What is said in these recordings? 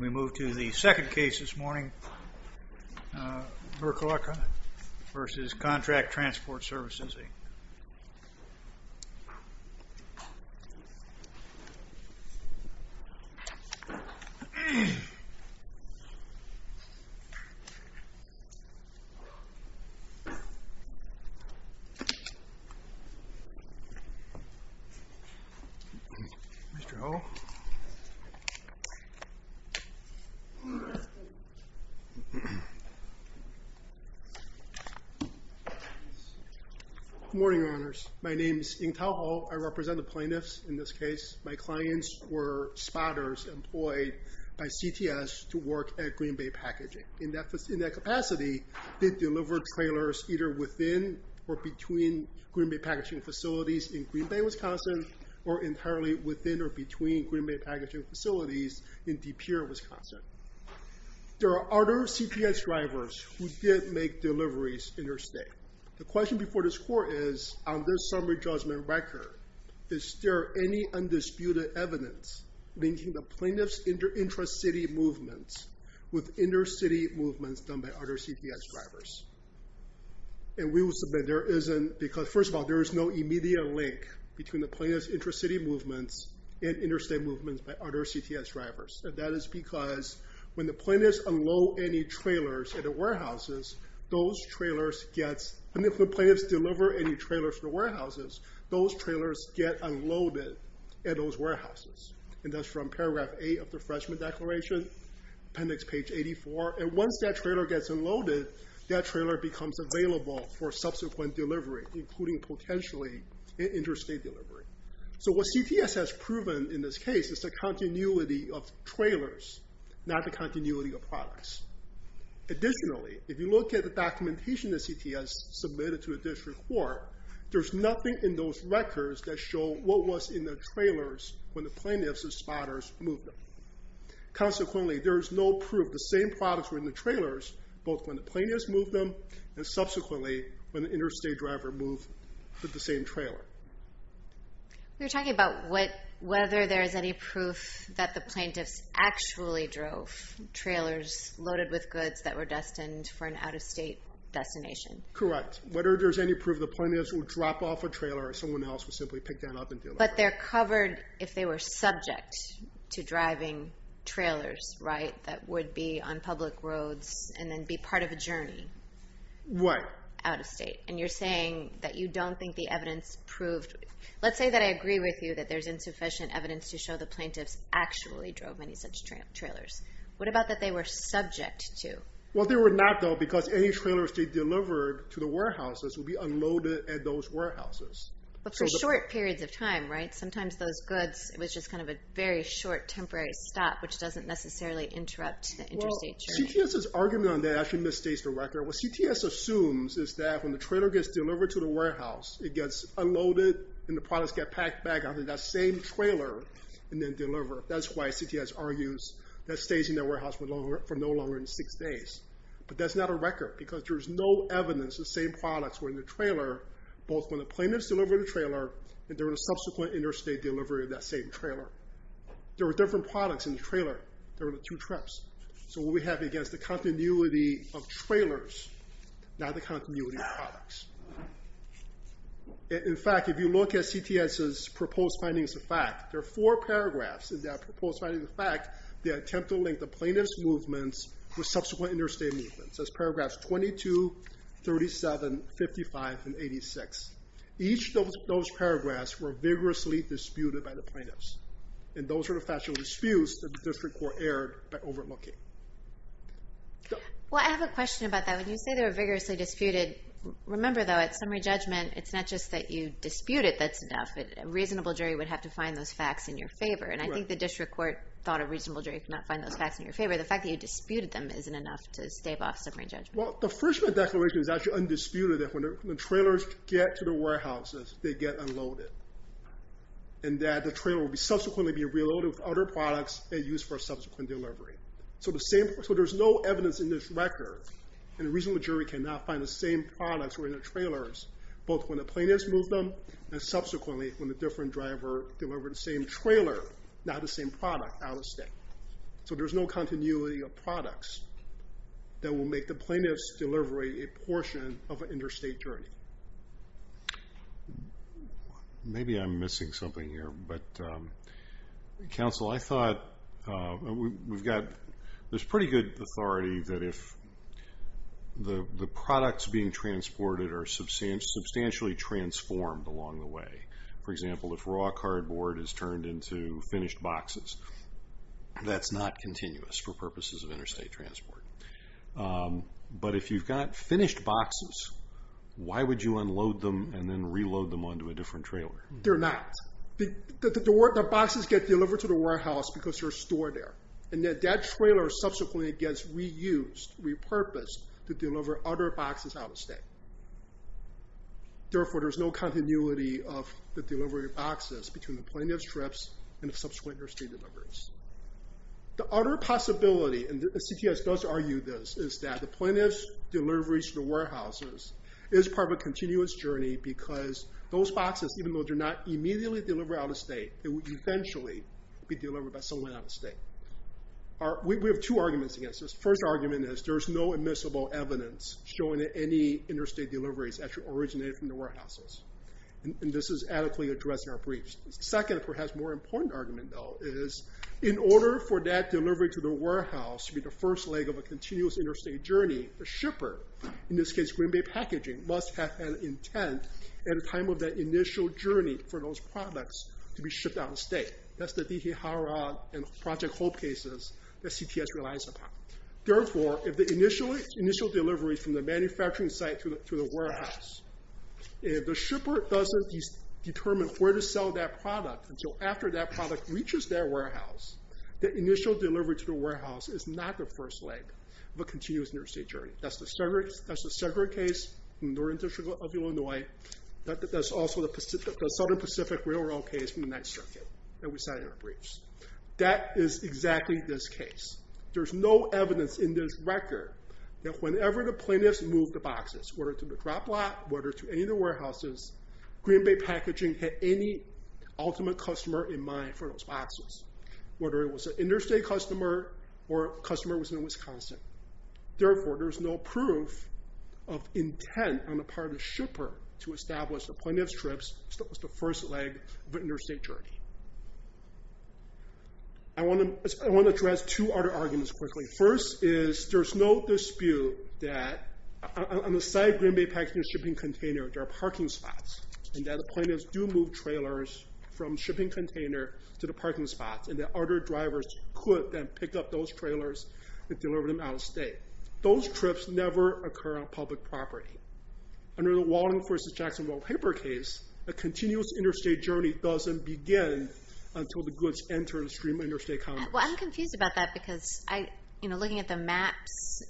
We move to the second case this morning, Burlaka v. Contract Transport Services. Mr. Ho. Good morning, Your Honors. My name is Ng-Tau Ho. I represent the plaintiffs in this case. My clients were spotters employed by CTS to work at Green Bay Packaging. In that capacity, they delivered trailers either within or between Green Bay Packaging facilities in Green Bay, Wisconsin, or entirely within or between Green Bay Packaging facilities in De Pere, Wisconsin. There are other CTS drivers who did make deliveries interstate. The question before this Court is, on this summary judgment record, is there any undisputed evidence linking the plaintiffs' intra-city movements with inter-city movements done by other CTS drivers? And we will submit there isn't, because first of all, there is no immediate link between the plaintiffs' intra-city movements and interstate movements by other CTS drivers. And that is because when the plaintiffs unload any trailers at the warehouses, those trailers get, and if the plaintiffs deliver any trailers to the warehouses, those trailers get unloaded at those warehouses. And that's from paragraph 8 of the Freshman Declaration, appendix page 84. And once that trailer gets unloaded, that trailer becomes available for subsequent delivery, including potentially interstate delivery. So what CTS has proven in this case is the continuity of trailers, not the continuity of products. Additionally, if you look at the documentation that CTS submitted to the District Court, there's nothing in those records that show what was in the trailers when the plaintiffs and spotters moved them. Consequently, there is no proof the same products were in the trailers, both when the plaintiffs moved them, and subsequently, when the interstate driver moved the same trailer. We're talking about whether there's any proof that the plaintiffs actually drove trailers loaded with goods that were destined for an out-of-state destination. Correct. Whether there's any proof the plaintiffs would drop off a trailer or someone else would simply pick that up and deal with it. But they're covered if they were subject to driving trailers, right, that would be on public roads and then be part of a journey. What? Out-of-state, and you're saying that you don't think the evidence proved... Let's say that I agree with you that there's insufficient evidence to show the plaintiffs actually drove any such trailers. What about that they were subject to? Well, they were not, though, because any trailers they delivered to the warehouses would be unloaded at those warehouses. But for short periods of time, right? Sometimes those goods, it was just kind of a very short, temporary stop, which doesn't necessarily interrupt the interstate journey. And CTS's argument on that actually misstates the record. What CTS assumes is that when the trailer gets delivered to the warehouse, it gets unloaded and the products get packed back onto that same trailer and then delivered. That's why CTS argues that stays in that warehouse for no longer than six days. But that's not a record, because there's no evidence the same products were in the trailer, both when the plaintiffs delivered the trailer and during the subsequent interstate delivery of that same trailer. There were different products in the trailer during the two trips. So what we have against the continuity of trailers, not the continuity of products. In fact, if you look at CTS's proposed findings of fact, there are four paragraphs in that proposed finding of fact that attempt to link the plaintiff's movements with subsequent interstate movements. There's paragraphs 22, 37, 55, and 86. Each of those paragraphs were vigorously disputed by the plaintiffs. And those were the factual disputes that the district court erred by overlooking. Well, I have a question about that. When you say they were vigorously disputed, remember, though, at summary judgment, it's not just that you dispute it that's enough. A reasonable jury would have to find those facts in your favor. And I think the district court thought a reasonable jury could not find those facts in your favor. The fact that you disputed them isn't enough to stave off summary judgment. Well, the Frischman Declaration is actually undisputed that when the trailers get to the warehouses, they get unloaded. And that the trailer will subsequently be reloaded with other products they use for subsequent delivery. So there's no evidence in this record, and a reasonable jury cannot find the same products were in the trailers, both when the plaintiffs moved them and subsequently when the different driver delivered the same trailer, not the same product, out of state. So there's no continuity of products that will make the plaintiff's delivery a portion of an interstate journey. Maybe I'm missing something here. But, counsel, I thought we've got this pretty good authority that if the products being transported are substantially transformed along the way, for example, if raw cardboard is turned into finished boxes, that's not continuous for purposes of interstate transport. But if you've got finished boxes, why would you unload them and then reload them onto a different trailer? They're not. The boxes get delivered to the warehouse because they're stored there. And that trailer subsequently gets reused, repurposed, to deliver other boxes out of state. Therefore, there's no continuity of the delivery of boxes between the plaintiff's trips and subsequent interstate deliveries. The other possibility, and the CTS does argue this, is that the plaintiff's deliveries to the warehouses is part of a continuous journey because those boxes, even though they're not immediately delivered out of state, they will eventually be delivered by someone out of state. We have two arguments against this. The first argument is there's no admissible evidence showing that any interstate deliveries actually originated from the warehouses. And this is adequately addressed in our briefs. The second, perhaps more important argument, though, is in order for that delivery to the warehouse to be the first leg of a continuous interstate journey, the shipper, in this case Green Bay Packaging, must have had intent at the time of that initial journey for those products to be shipped out of state. That's the D.T. Harrod and Project Hope cases that CTS relies upon. Therefore, if the initial delivery from the manufacturing site to the warehouse, if the shipper doesn't determine where to sell that product until after that product reaches their warehouse, the initial delivery to the warehouse is not the first leg of a continuous interstate journey. That's the Segret case from the Northern District of Illinois. That's also the Southern Pacific Railroad case from the 9th Circuit that we cited in our briefs. That is exactly this case. There's no evidence in this record that whenever the plaintiffs moved the boxes, whether to the drop lot, whether to any of the warehouses, Green Bay Packaging had any ultimate customer in mind for those boxes, whether it was an interstate customer or a customer that was in Wisconsin. Therefore, there's no proof of intent on the part of the shipper to establish the plaintiff's trips as the first leg of an interstate journey. I want to address two other arguments quickly. First is there's no dispute that on the side of Green Bay Packaging's shipping container, there are parking spots, and that the plaintiffs do move trailers from shipping container to the parking spots, and that other drivers could then pick up those trailers and deliver them out of state. Those trips never occur on public property. Under the Wallingford v. Jacksonville paper case, a continuous interstate journey doesn't begin until the goods enter the stream of interstate commerce. I'm confused about that because looking at the maps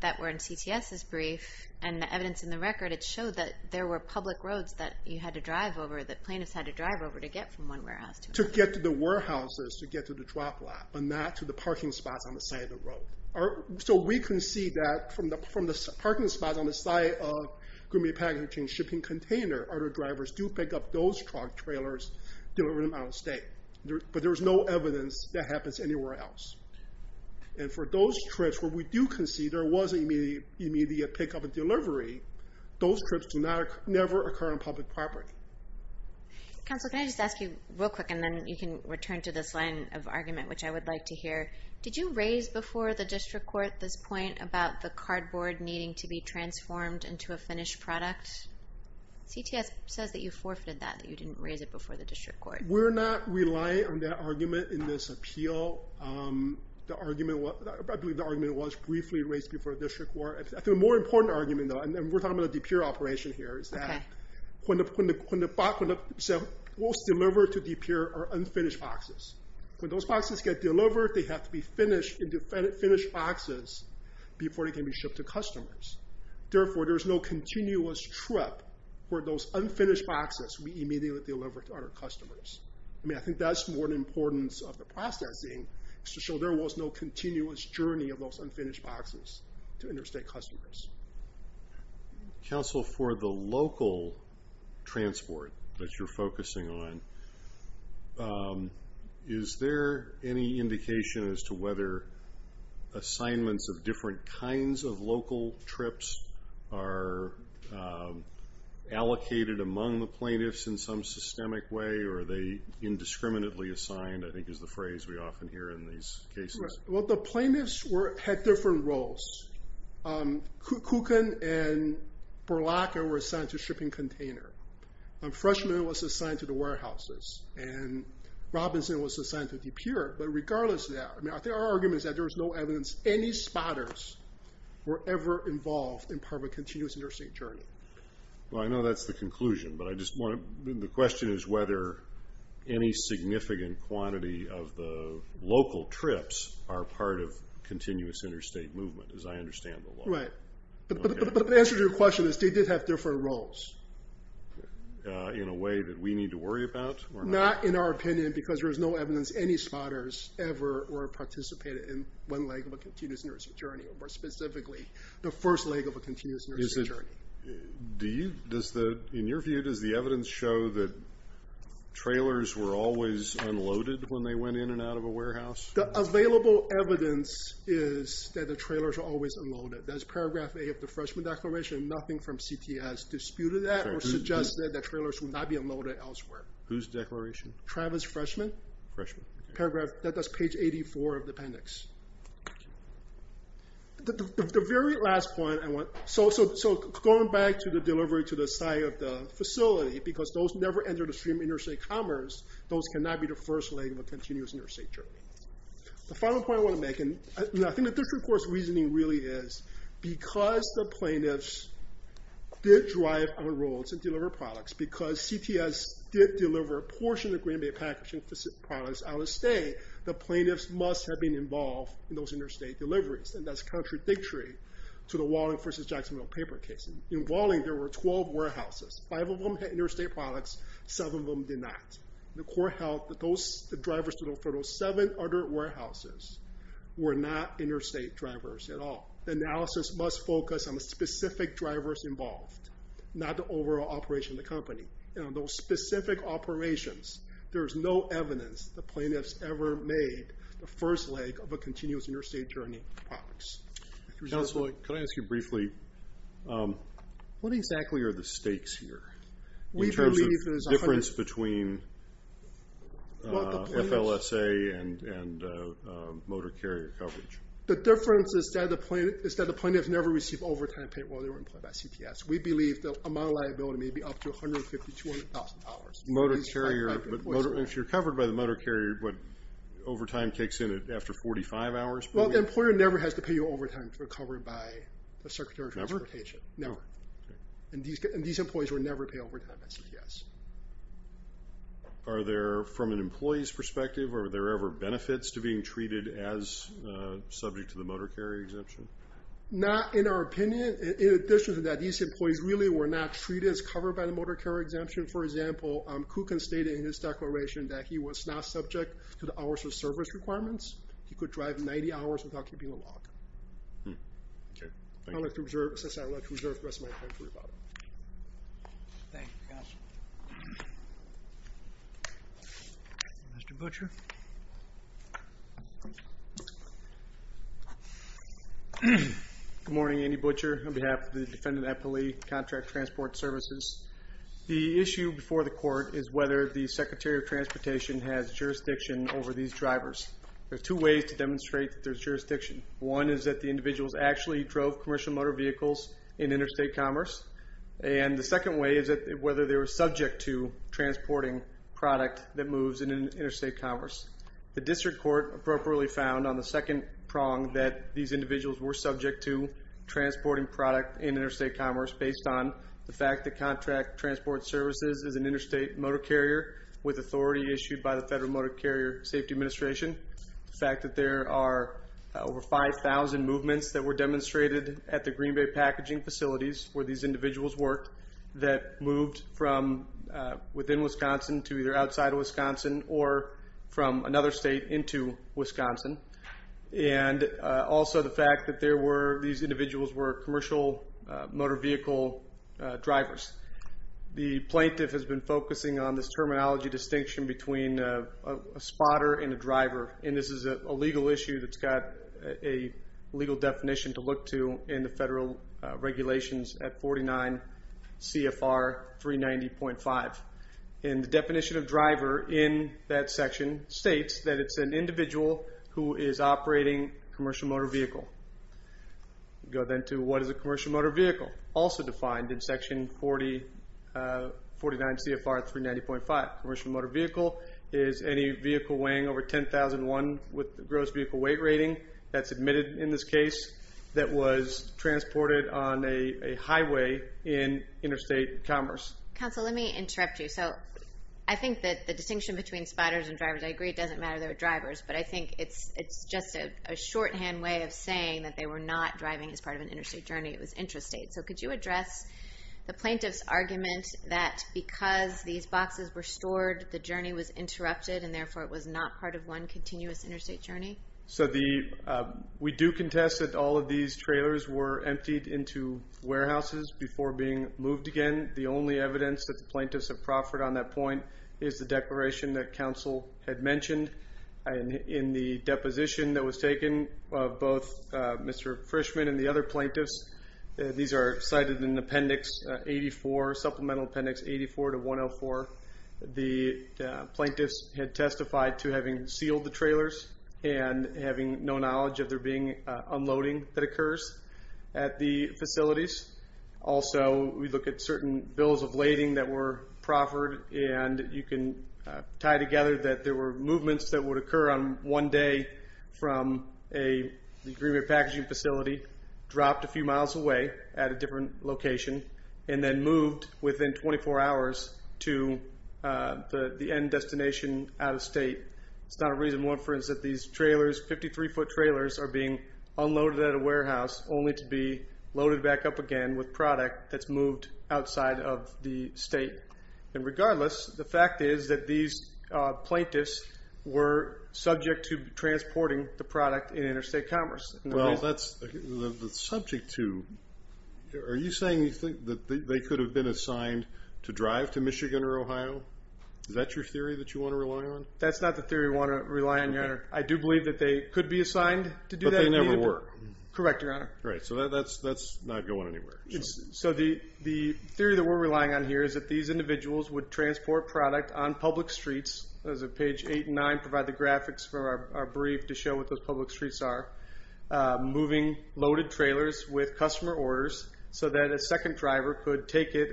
that were in CTS's brief and the evidence in the record, it showed that there were public roads that you had to drive over, that plaintiffs had to drive over to get from one warehouse to another. To get to the warehouses, to get to the drop lot, but not to the parking spots on the side of the road. So we can see that from the parking spots on the side of Green Bay Packaging's shipping container, other drivers do pick up those truck trailers, deliver them out of state. But there's no evidence that happens anywhere else. And for those trips where we do concede there was an immediate pickup and delivery, those trips never occur on public property. Counselor, can I just ask you real quick, and then you can return to this line of argument, which I would like to hear. Did you raise before the district court this point about the cardboard needing to be transformed into a finished product? CTS says that you forfeited that, that you didn't raise it before the district court. We're not relying on that argument in this appeal. I believe the argument was briefly raised before the district court. I think a more important argument, though, and we're talking about a depure operation here, is that when the box was delivered to depure are unfinished boxes. When those boxes get delivered, they have to be finished into finished boxes before they can be shipped to customers. Therefore, there's no continuous trip where those unfinished boxes we immediately deliver to our customers. I mean, I think that's more the importance of the processing, is to show there was no continuous journey of those unfinished boxes to interstate customers. Counsel, for the local transport that you're focusing on, is there any indication as to whether assignments of different kinds of local trips are allocated among the plaintiffs in some systemic way, or are they indiscriminately assigned, I think is the phrase we often hear in these cases? Well, the plaintiffs had different roles. Cookin and Berlacca were assigned to shipping container. Freshman was assigned to the warehouses. And Robinson was assigned to depure. But regardless of that, I think our argument is that there was no evidence any spotters were ever involved in part of a continuous interstate journey. Well, I know that's the conclusion, but I just want to... The question is whether any significant quantity of the local trips are part of continuous interstate movement, as I understand the law. Right. But the answer to your question is they did have different roles. In a way that we need to worry about? Not in our opinion, because there's no evidence any spotters ever were participating in one leg of a continuous interstate journey, or more specifically, the first leg of a continuous interstate journey. In your view, does the evidence show that trailers were always unloaded when they went in and out of a warehouse? The available evidence is that the trailers were always unloaded. That's paragraph A of the Freshman Declaration. Nothing from CT has disputed that or suggested that trailers would not be unloaded elsewhere. Whose declaration? Travis Freshman. Freshman. That's page 84 of the appendix. The very last point I want... So going back to the delivery to the site of the facility, because those never entered the stream of interstate commerce, those cannot be the first leg of a continuous interstate journey. The final point I want to make, and I think the District Court's reasoning really is, because the plaintiffs did drive on roads and deliver products, because CTS did deliver a portion of the Green Bay packaging products out of state, the plaintiffs must have been involved in those interstate deliveries. And that's contradictory to the Walling v. Jacksonville paper case. In Walling, there were 12 warehouses. Five of them had interstate products. Seven of them did not. The court held that the drivers for those seven other warehouses were not interstate drivers at all. The analysis must focus on the specific drivers involved, not the overall operation of the company. Those specific operations, there's no evidence the plaintiffs ever made the first leg of a continuous interstate journey of products. Counselor, can I ask you briefly, what exactly are the stakes here? In terms of the difference between FLSA and motor carrier coverage? The difference is that the plaintiffs never received overtime pay while they were employed by CTS. We believe the amount of liability may be up to $150,000 to $200,000. If you're covered by the motor carrier, what, overtime kicks in after 45 hours? Well, the employer never has to pay you overtime if you're covered by the Secretary of Transportation. Never? Never. And these employees were never paid overtime at CTS. Are there, from an employee's perspective, are there ever benefits to being treated as subject to the motor carrier exemption? Not in our opinion. In addition to that, these employees really were not treated as covered by the motor carrier exemption. For example, Kukin stated in his declaration that he was not subject to the hours of service requirements. He could drive 90 hours without keeping a lock. Okay. I'd like to reserve the rest of my time for rebuttal. Thank you, Counselor. Mr. Butcher. Good morning. Andy Butcher on behalf of the Defendant Appellee Contract Transport Services. The issue before the court is whether the Secretary of Transportation has jurisdiction over these drivers. There are two ways to demonstrate that there's jurisdiction. One is that the individuals actually drove commercial motor vehicles in interstate commerce, and the second way is whether they were subject to transporting product that moves in interstate commerce. The district court appropriately found, on the second prong, that these individuals were subject to transporting product in interstate commerce based on the fact that Contract Transport Services is an interstate motor carrier with authority issued by the Federal Motor Carrier Safety Administration. The fact that there are over 5,000 movements that were demonstrated at the Green Bay packaging facilities where these individuals worked that moved from within Wisconsin to either outside of Wisconsin or from another state into Wisconsin, and also the fact that these individuals were commercial motor vehicle drivers. The plaintiff has been focusing on this terminology distinction between a spotter and a driver, and this is a legal issue that's got a legal definition to look to in the federal regulations at 49 CFR 390.5. The definition of driver in that section states that it's an individual who is operating a commercial motor vehicle. Go then to what is a commercial motor vehicle, also defined in section 49 CFR 390.5. Commercial motor vehicle is any vehicle weighing over 10,001 with the gross vehicle weight rating that's admitted in this case that was transported on a highway in interstate commerce. Counsel, let me interrupt you. So I think that the distinction between spotters and drivers, I agree it doesn't matter they're drivers, but I think it's just a shorthand way of saying that they were not driving as part of an interstate journey. It was intrastate. So could you address the plaintiff's argument that because these boxes were stored, the journey was interrupted, and therefore it was not part of one continuous interstate journey? So we do contest that all of these trailers were emptied into warehouses before being moved again. The only evidence that the plaintiffs have proffered on that point is the declaration that counsel had mentioned. In the deposition that was taken, both Mr. Frischman and the other plaintiffs, these are cited in appendix 84, supplemental appendix 84 to 104. The plaintiffs had testified to having sealed the trailers and having no knowledge of there being unloading that occurs at the facilities. Also, we look at certain bills of lading that were proffered, and you can tie together that there were movements that would occur on one day from an agreement packaging facility, dropped a few miles away at a different location, and then moved within 24 hours to the end destination out of state. It's not a reason. One for instance, these trailers, 53-foot trailers, are being unloaded at a warehouse, only to be loaded back up again with product that's moved outside of the state. Regardless, the fact is that these plaintiffs were subject to transporting the product in interstate commerce. Are you saying you think that they could have been assigned to drive to Michigan or Ohio? Is that your theory that you want to rely on? That's not the theory we want to rely on, Your Honor. I do believe that they could be assigned to do that. But they never were. Correct, Your Honor. Right, so that's not going anywhere. So the theory that we're relying on here is that these individuals would transport product on public streets, as page 8 and 9 provide the graphics for our brief to show what those public streets are, moving loaded trailers with customer orders so that a second driver could take it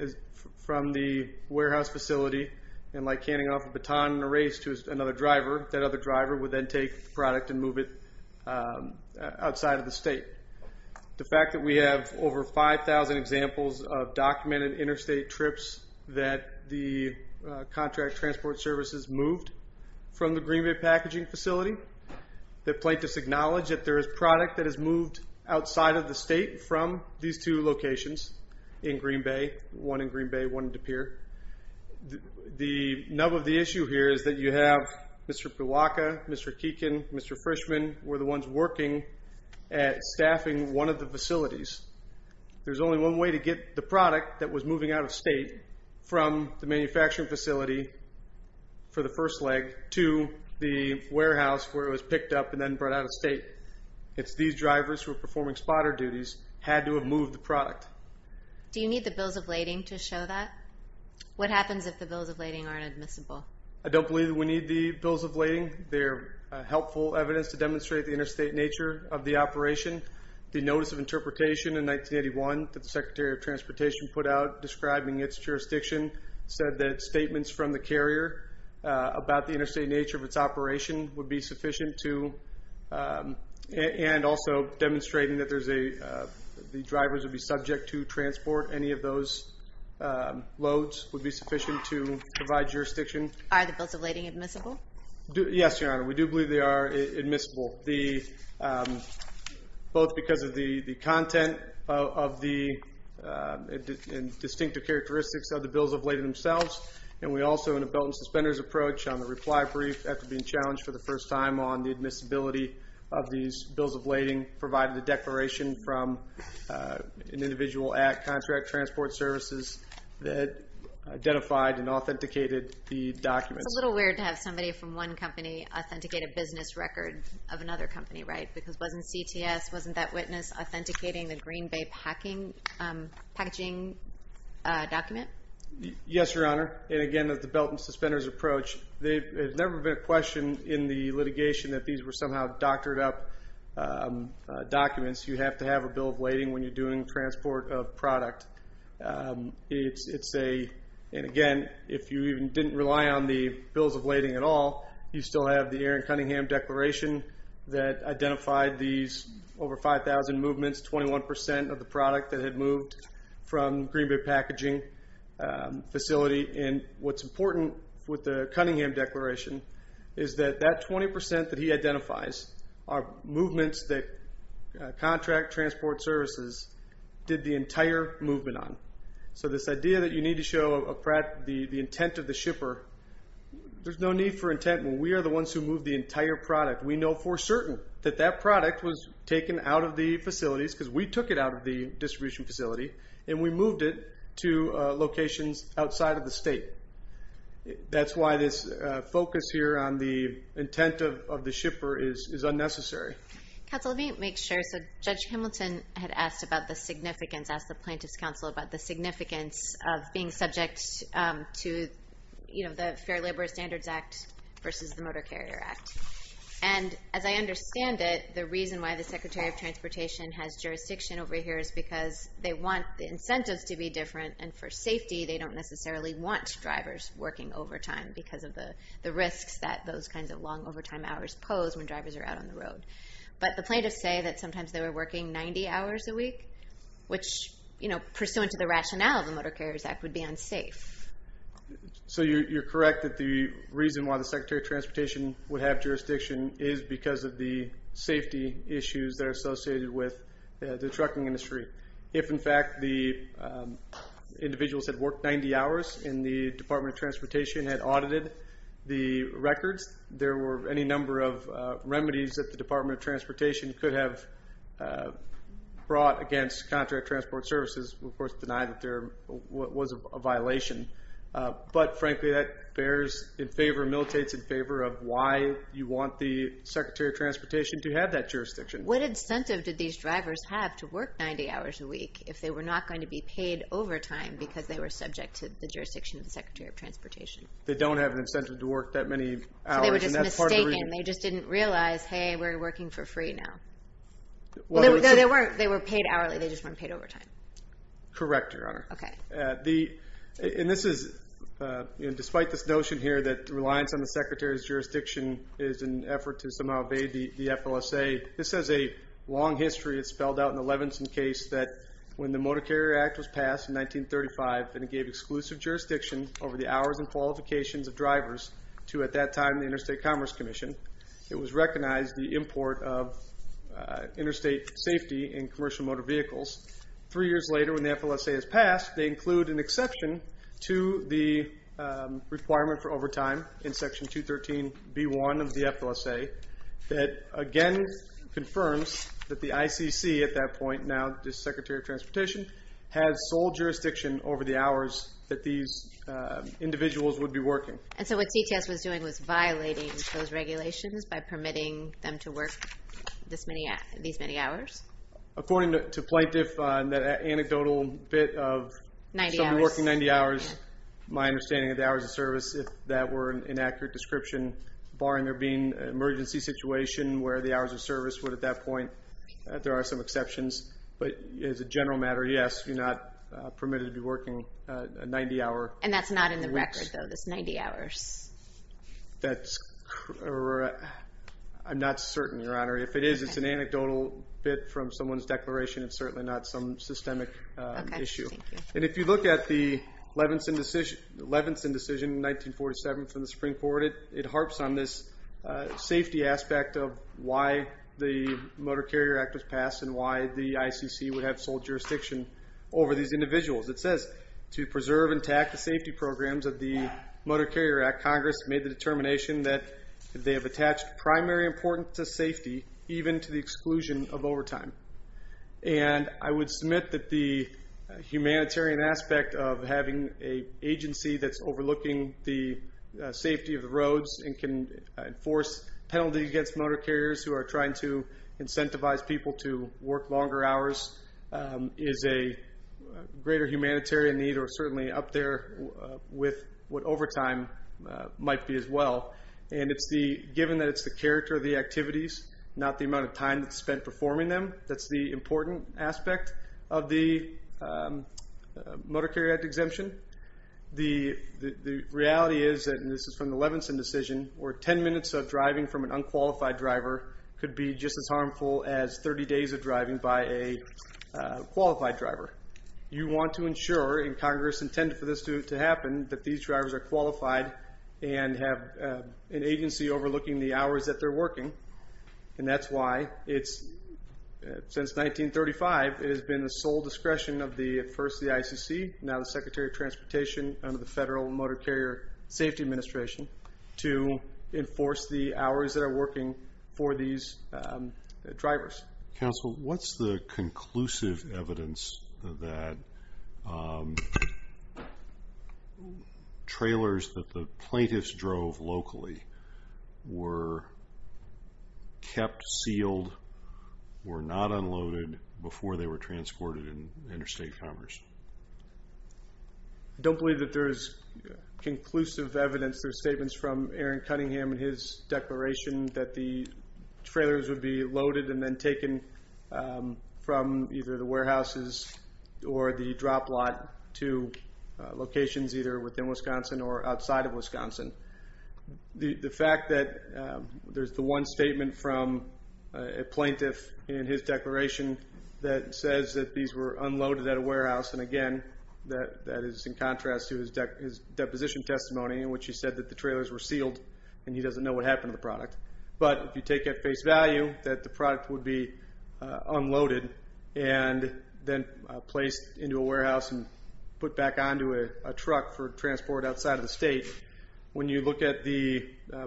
from the warehouse facility and, like handing off a baton in a race to another driver, that other driver would then take the product and move it outside of the state. The fact that we have over 5,000 examples of documented interstate trips that the contract transport services moved from the Green Bay Packaging Facility, the plaintiffs acknowledge that there is product that is moved outside of the state from these two locations in Green Bay, one in Green Bay, one in De Pere. The nub of the issue here is that you have Mr. Puwaka, Mr. Keekin, Mr. Frischman, were the ones working at staffing one of the facilities. There's only one way to get the product that was moving out of state from the manufacturing facility for the first leg to the warehouse where it was picked up and then brought out of state. It's these drivers who are performing spotter duties had to have moved the product. Do you need the bills of lading to show that? What happens if the bills of lading aren't admissible? I don't believe that we need the bills of lading. They're helpful evidence to demonstrate the interstate nature of the operation. The Notice of Interpretation in 1981 that the Secretary of Transportation put out describing its jurisdiction said that statements from the carrier about the interstate nature of its operation would be sufficient to and also demonstrating that the drivers would be subject to transport, any of those loads would be sufficient to provide jurisdiction. Are the bills of lading admissible? Yes, Your Honor, we do believe they are admissible, both because of the content and distinctive characteristics of the bills of lading themselves and we also in a belt and suspenders approach on the reply brief after being challenged for the first time on the admissibility of these bills of lading provided a declaration from an individual at Contract Transport Services that identified and authenticated the documents. It's a little weird to have somebody from one company authenticate a business record of another company, right? Because wasn't CTS, wasn't that witness, authenticating the Green Bay packaging document? Yes, Your Honor, and again, the belt and suspenders approach, there's never been a question in the litigation that these were somehow doctored up documents. You have to have a bill of lading when you're doing transport of product. It's a, and again, if you even didn't rely on the bills of lading at all, you still have the Aaron Cunningham declaration that identified these over 5,000 movements, 21% of the product that had moved from Green Bay packaging facility and what's important with the Cunningham declaration is that that 20% that he identifies are movements that Contract Transport Services did the entire movement on. So this idea that you need to show the intent of the shipper, there's no need for intent when we are the ones who move the entire product. We know for certain that that product was taken out of the facilities because we took it out of the distribution facility and we moved it to locations outside of the state. That's why this focus here on the intent of the shipper is unnecessary. Counsel, let me make sure. So Judge Hamilton had asked about the significance, asked the Plaintiff's Counsel about the significance of being subject to the Fair Labor Standards Act versus the Motor Carrier Act. And as I understand it, the reason why the Secretary of Transportation has jurisdiction over here is because they want the incentives to be different and for safety they don't necessarily want drivers working overtime because of the risks that those kinds of long overtime hours pose when drivers are out on the road. But the plaintiffs say that sometimes they were working 90 hours a week, which pursuant to the rationale of the Motor Carriers Act would be unsafe. So you're correct that the reason why the Secretary of Transportation would have jurisdiction is because of the safety issues that are associated with the trucking industry. If, in fact, the individuals had worked 90 hours and the Department of Transportation had audited the records, there were any number of remedies that the Department of Transportation could have brought against contract transport services. We, of course, deny that there was a violation. But, frankly, that bears in favor, militates in favor of why you want the Secretary of Transportation to have that jurisdiction. What incentive did these drivers have to work 90 hours a week if they were not going to be paid overtime because they were subject to the jurisdiction of the Secretary of Transportation? They don't have an incentive to work that many hours. So they were just mistaken. They just didn't realize, hey, we're working for free now. No, they weren't. They were paid hourly. They just weren't paid overtime. Correct, Your Honor. Okay. Despite this notion here that reliance on the Secretary's jurisdiction is an effort to somehow evade the FLSA, this has a long history. It's spelled out in the Levinson case that when the Motor Carrier Act was passed in 1935 and it gave exclusive jurisdiction over the hours and qualifications of drivers to, at that time, the Interstate Commerce Commission, it was recognized the import of interstate safety in commercial motor vehicles. Three years later, when the FLSA is passed, they include an exception to the requirement for overtime in Section 213b1 of the FLSA that, again, confirms that the ICC at that point, now the Secretary of Transportation, has sole jurisdiction over the hours that these individuals would be working. And so what CTS was doing was violating those regulations by permitting them to work these many hours? According to Plaintiff, that anecdotal bit of somebody working 90 hours, my understanding of the hours of service, if that were an inaccurate description, barring there being an emergency situation where the hours of service would, at that point, there are some exceptions. But as a general matter, yes, you're not permitted to be working 90 hours. And that's not in the record, though, those 90 hours? That's correct. I'm not certain, Your Honor. If it is, it's an anecdotal bit from someone's declaration. It's certainly not some systemic issue. And if you look at the Levinson decision in 1947 from the Supreme Court, it harps on this safety aspect of why the Motor Carrier Act was passed and why the ICC would have sole jurisdiction over these individuals. It says, to preserve intact the safety programs of the Motor Carrier Act, Congress made the determination that they have attached primary importance to safety, even to the exclusion of overtime. And I would submit that the humanitarian aspect of having an agency that's overlooking the safety of the roads and can enforce penalties against motor carriers who are trying to incentivize people to work longer hours is a greater humanitarian need, or certainly up there with what overtime might be as well. And given that it's the character of the activities, not the amount of time that's spent performing them, that's the important aspect of the Motor Carrier Act exemption. The reality is, and this is from the Levinson decision, where 10 minutes of driving from an unqualified driver could be just as harmful as 30 days of driving by a qualified driver. You want to ensure, and Congress intended for this to happen, that these drivers are qualified and have an agency overlooking the hours that they're working. And that's why it's, since 1935, it has been the sole discretion of first the ICC, now the Secretary of Transportation under the Federal Motor Carrier Safety Administration, to enforce the hours that are working for these drivers. Council, what's the conclusive evidence that trailers that the plaintiffs drove locally were kept sealed, were not unloaded, before they were transported in interstate commerce? I don't believe that there is conclusive evidence. There are statements from Aaron Cunningham and his declaration that the trailers would be loaded and then taken from either the warehouses or the drop lot to locations either within Wisconsin or outside of Wisconsin. The fact that there's the one statement from a plaintiff that is in contrast to his deposition testimony in which he said that the trailers were sealed and he doesn't know what happened to the product. But if you take at face value that the product would be unloaded and then placed into a warehouse and put back onto a truck for transport outside of the state, when you look at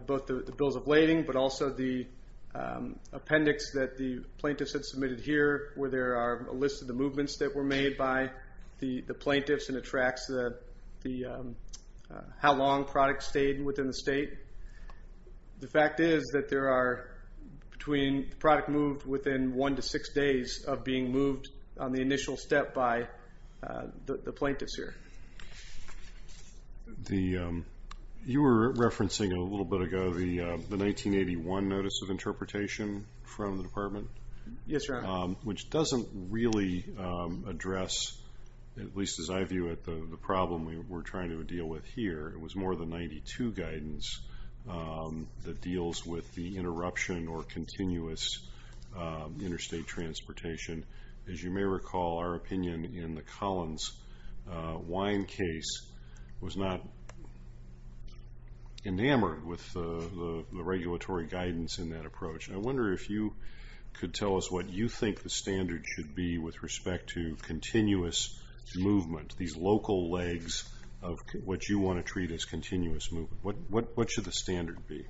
both the bills of lading but also the appendix that the plaintiffs had submitted here where there are a list of the movements that were made by the plaintiffs and it tracks how long products stayed within the state. The fact is that there are, between the product moved within one to six days of being moved on the initial step by the plaintiffs here. You were referencing a little bit ago the 1981 Notice of Interpretation from the department. Yes, Your Honor. Which doesn't really address, at least as I view it, the problem we're trying to deal with here. It was more the 92 guidance that deals with the interruption or continuous interstate transportation. As you may recall, our opinion in the Collins wine case was not enamored with the regulatory guidance in that approach. I wonder if you could tell us what you think the standard should be with respect to continuous movement, these local legs of what you want to treat as continuous movement. What should the standard be?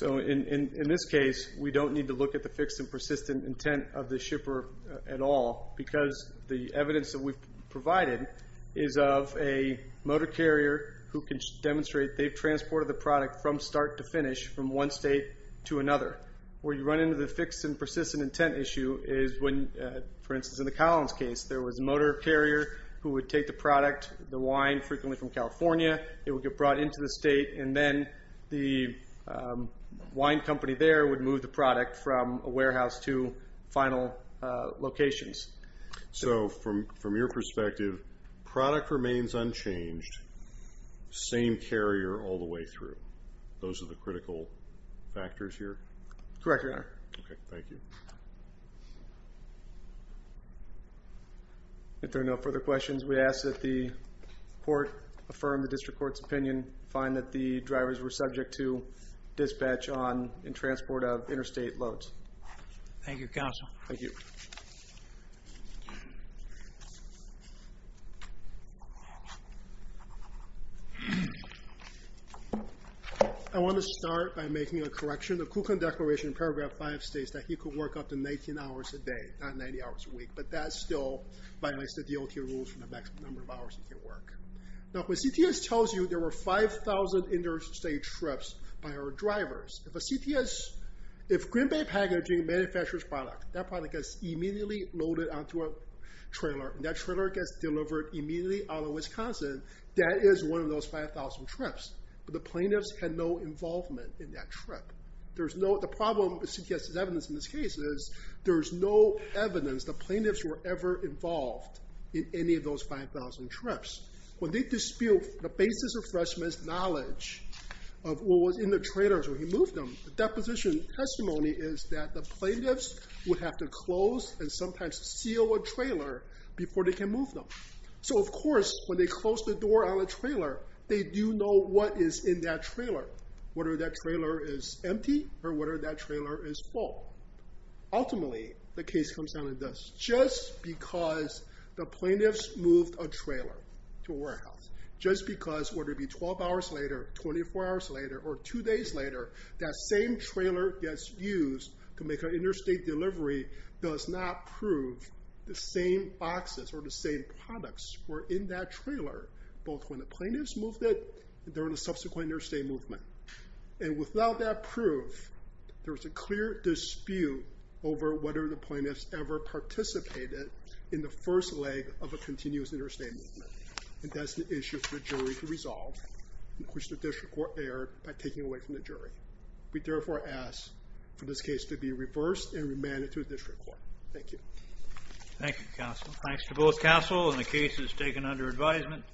In this case, we don't need to look at the fixed and persistent intent of the shipper at all because the evidence that we've provided is of a motor carrier who can demonstrate they've transported the product from start to finish from one state to another. Where you run into the fixed and persistent intent issue is when, for instance, in the Collins case, there was a motor carrier who would take the product, the wine, frequently from California. It would get brought into the state, and then the wine company there would move the product from a warehouse to final locations. So from your perspective, product remains unchanged, same carrier all the way through. Those are the critical factors here? Correct, Your Honor. Okay, thank you. If there are no further questions, we ask that the court affirm the district court's opinion, find that the drivers were subject to dispatch on and transport of interstate loads. Thank you, Counsel. Thank you. I want to start by making a correction. The Kuklin Declaration in Paragraph 5 states that he could work up to 19 hours a day, not 90 hours a week, but that still violates the DOT rules for the maximum number of hours he can work. Now, if a CTS tells you there were 5,000 interstate trips by our drivers, if a CTS, if Green Bay Packaging manufactures product, that product gets immediately loaded onto a trailer, and that trailer gets delivered immediately out of Wisconsin, that is one of those 5,000 trips. But the plaintiffs had no involvement in that trip. The problem with CTS' evidence in this case is there is no evidence the plaintiffs were ever involved in any of those 5,000 trips. When they dispute the basis of Freshman's knowledge of what was in the trailers when he moved them, the deposition testimony is that the plaintiffs would have to close and sometimes seal a trailer before they can move them. So, of course, when they close the door on a trailer, they do know what is in that trailer, whether that trailer is empty or whether that trailer is full. Ultimately, the case comes down to this. Just because the plaintiffs moved a trailer to a warehouse, just because, whether it be 12 hours later, 24 hours later, or 2 days later, that same trailer gets used to make an interstate delivery does not prove the same boxes or the same products were in that trailer, both when the plaintiffs moved it and during the subsequent interstate movement. And without that proof, there is a clear dispute over whether the plaintiffs ever participated in the first leg of a continuous interstate movement. And that's an issue for the jury to resolve, which the district court erred by taking away from the jury. We therefore ask for this case to be reversed and remanded to the district court. Thank you. Thank you, counsel. Thanks to both counsel and the cases taken under advisement.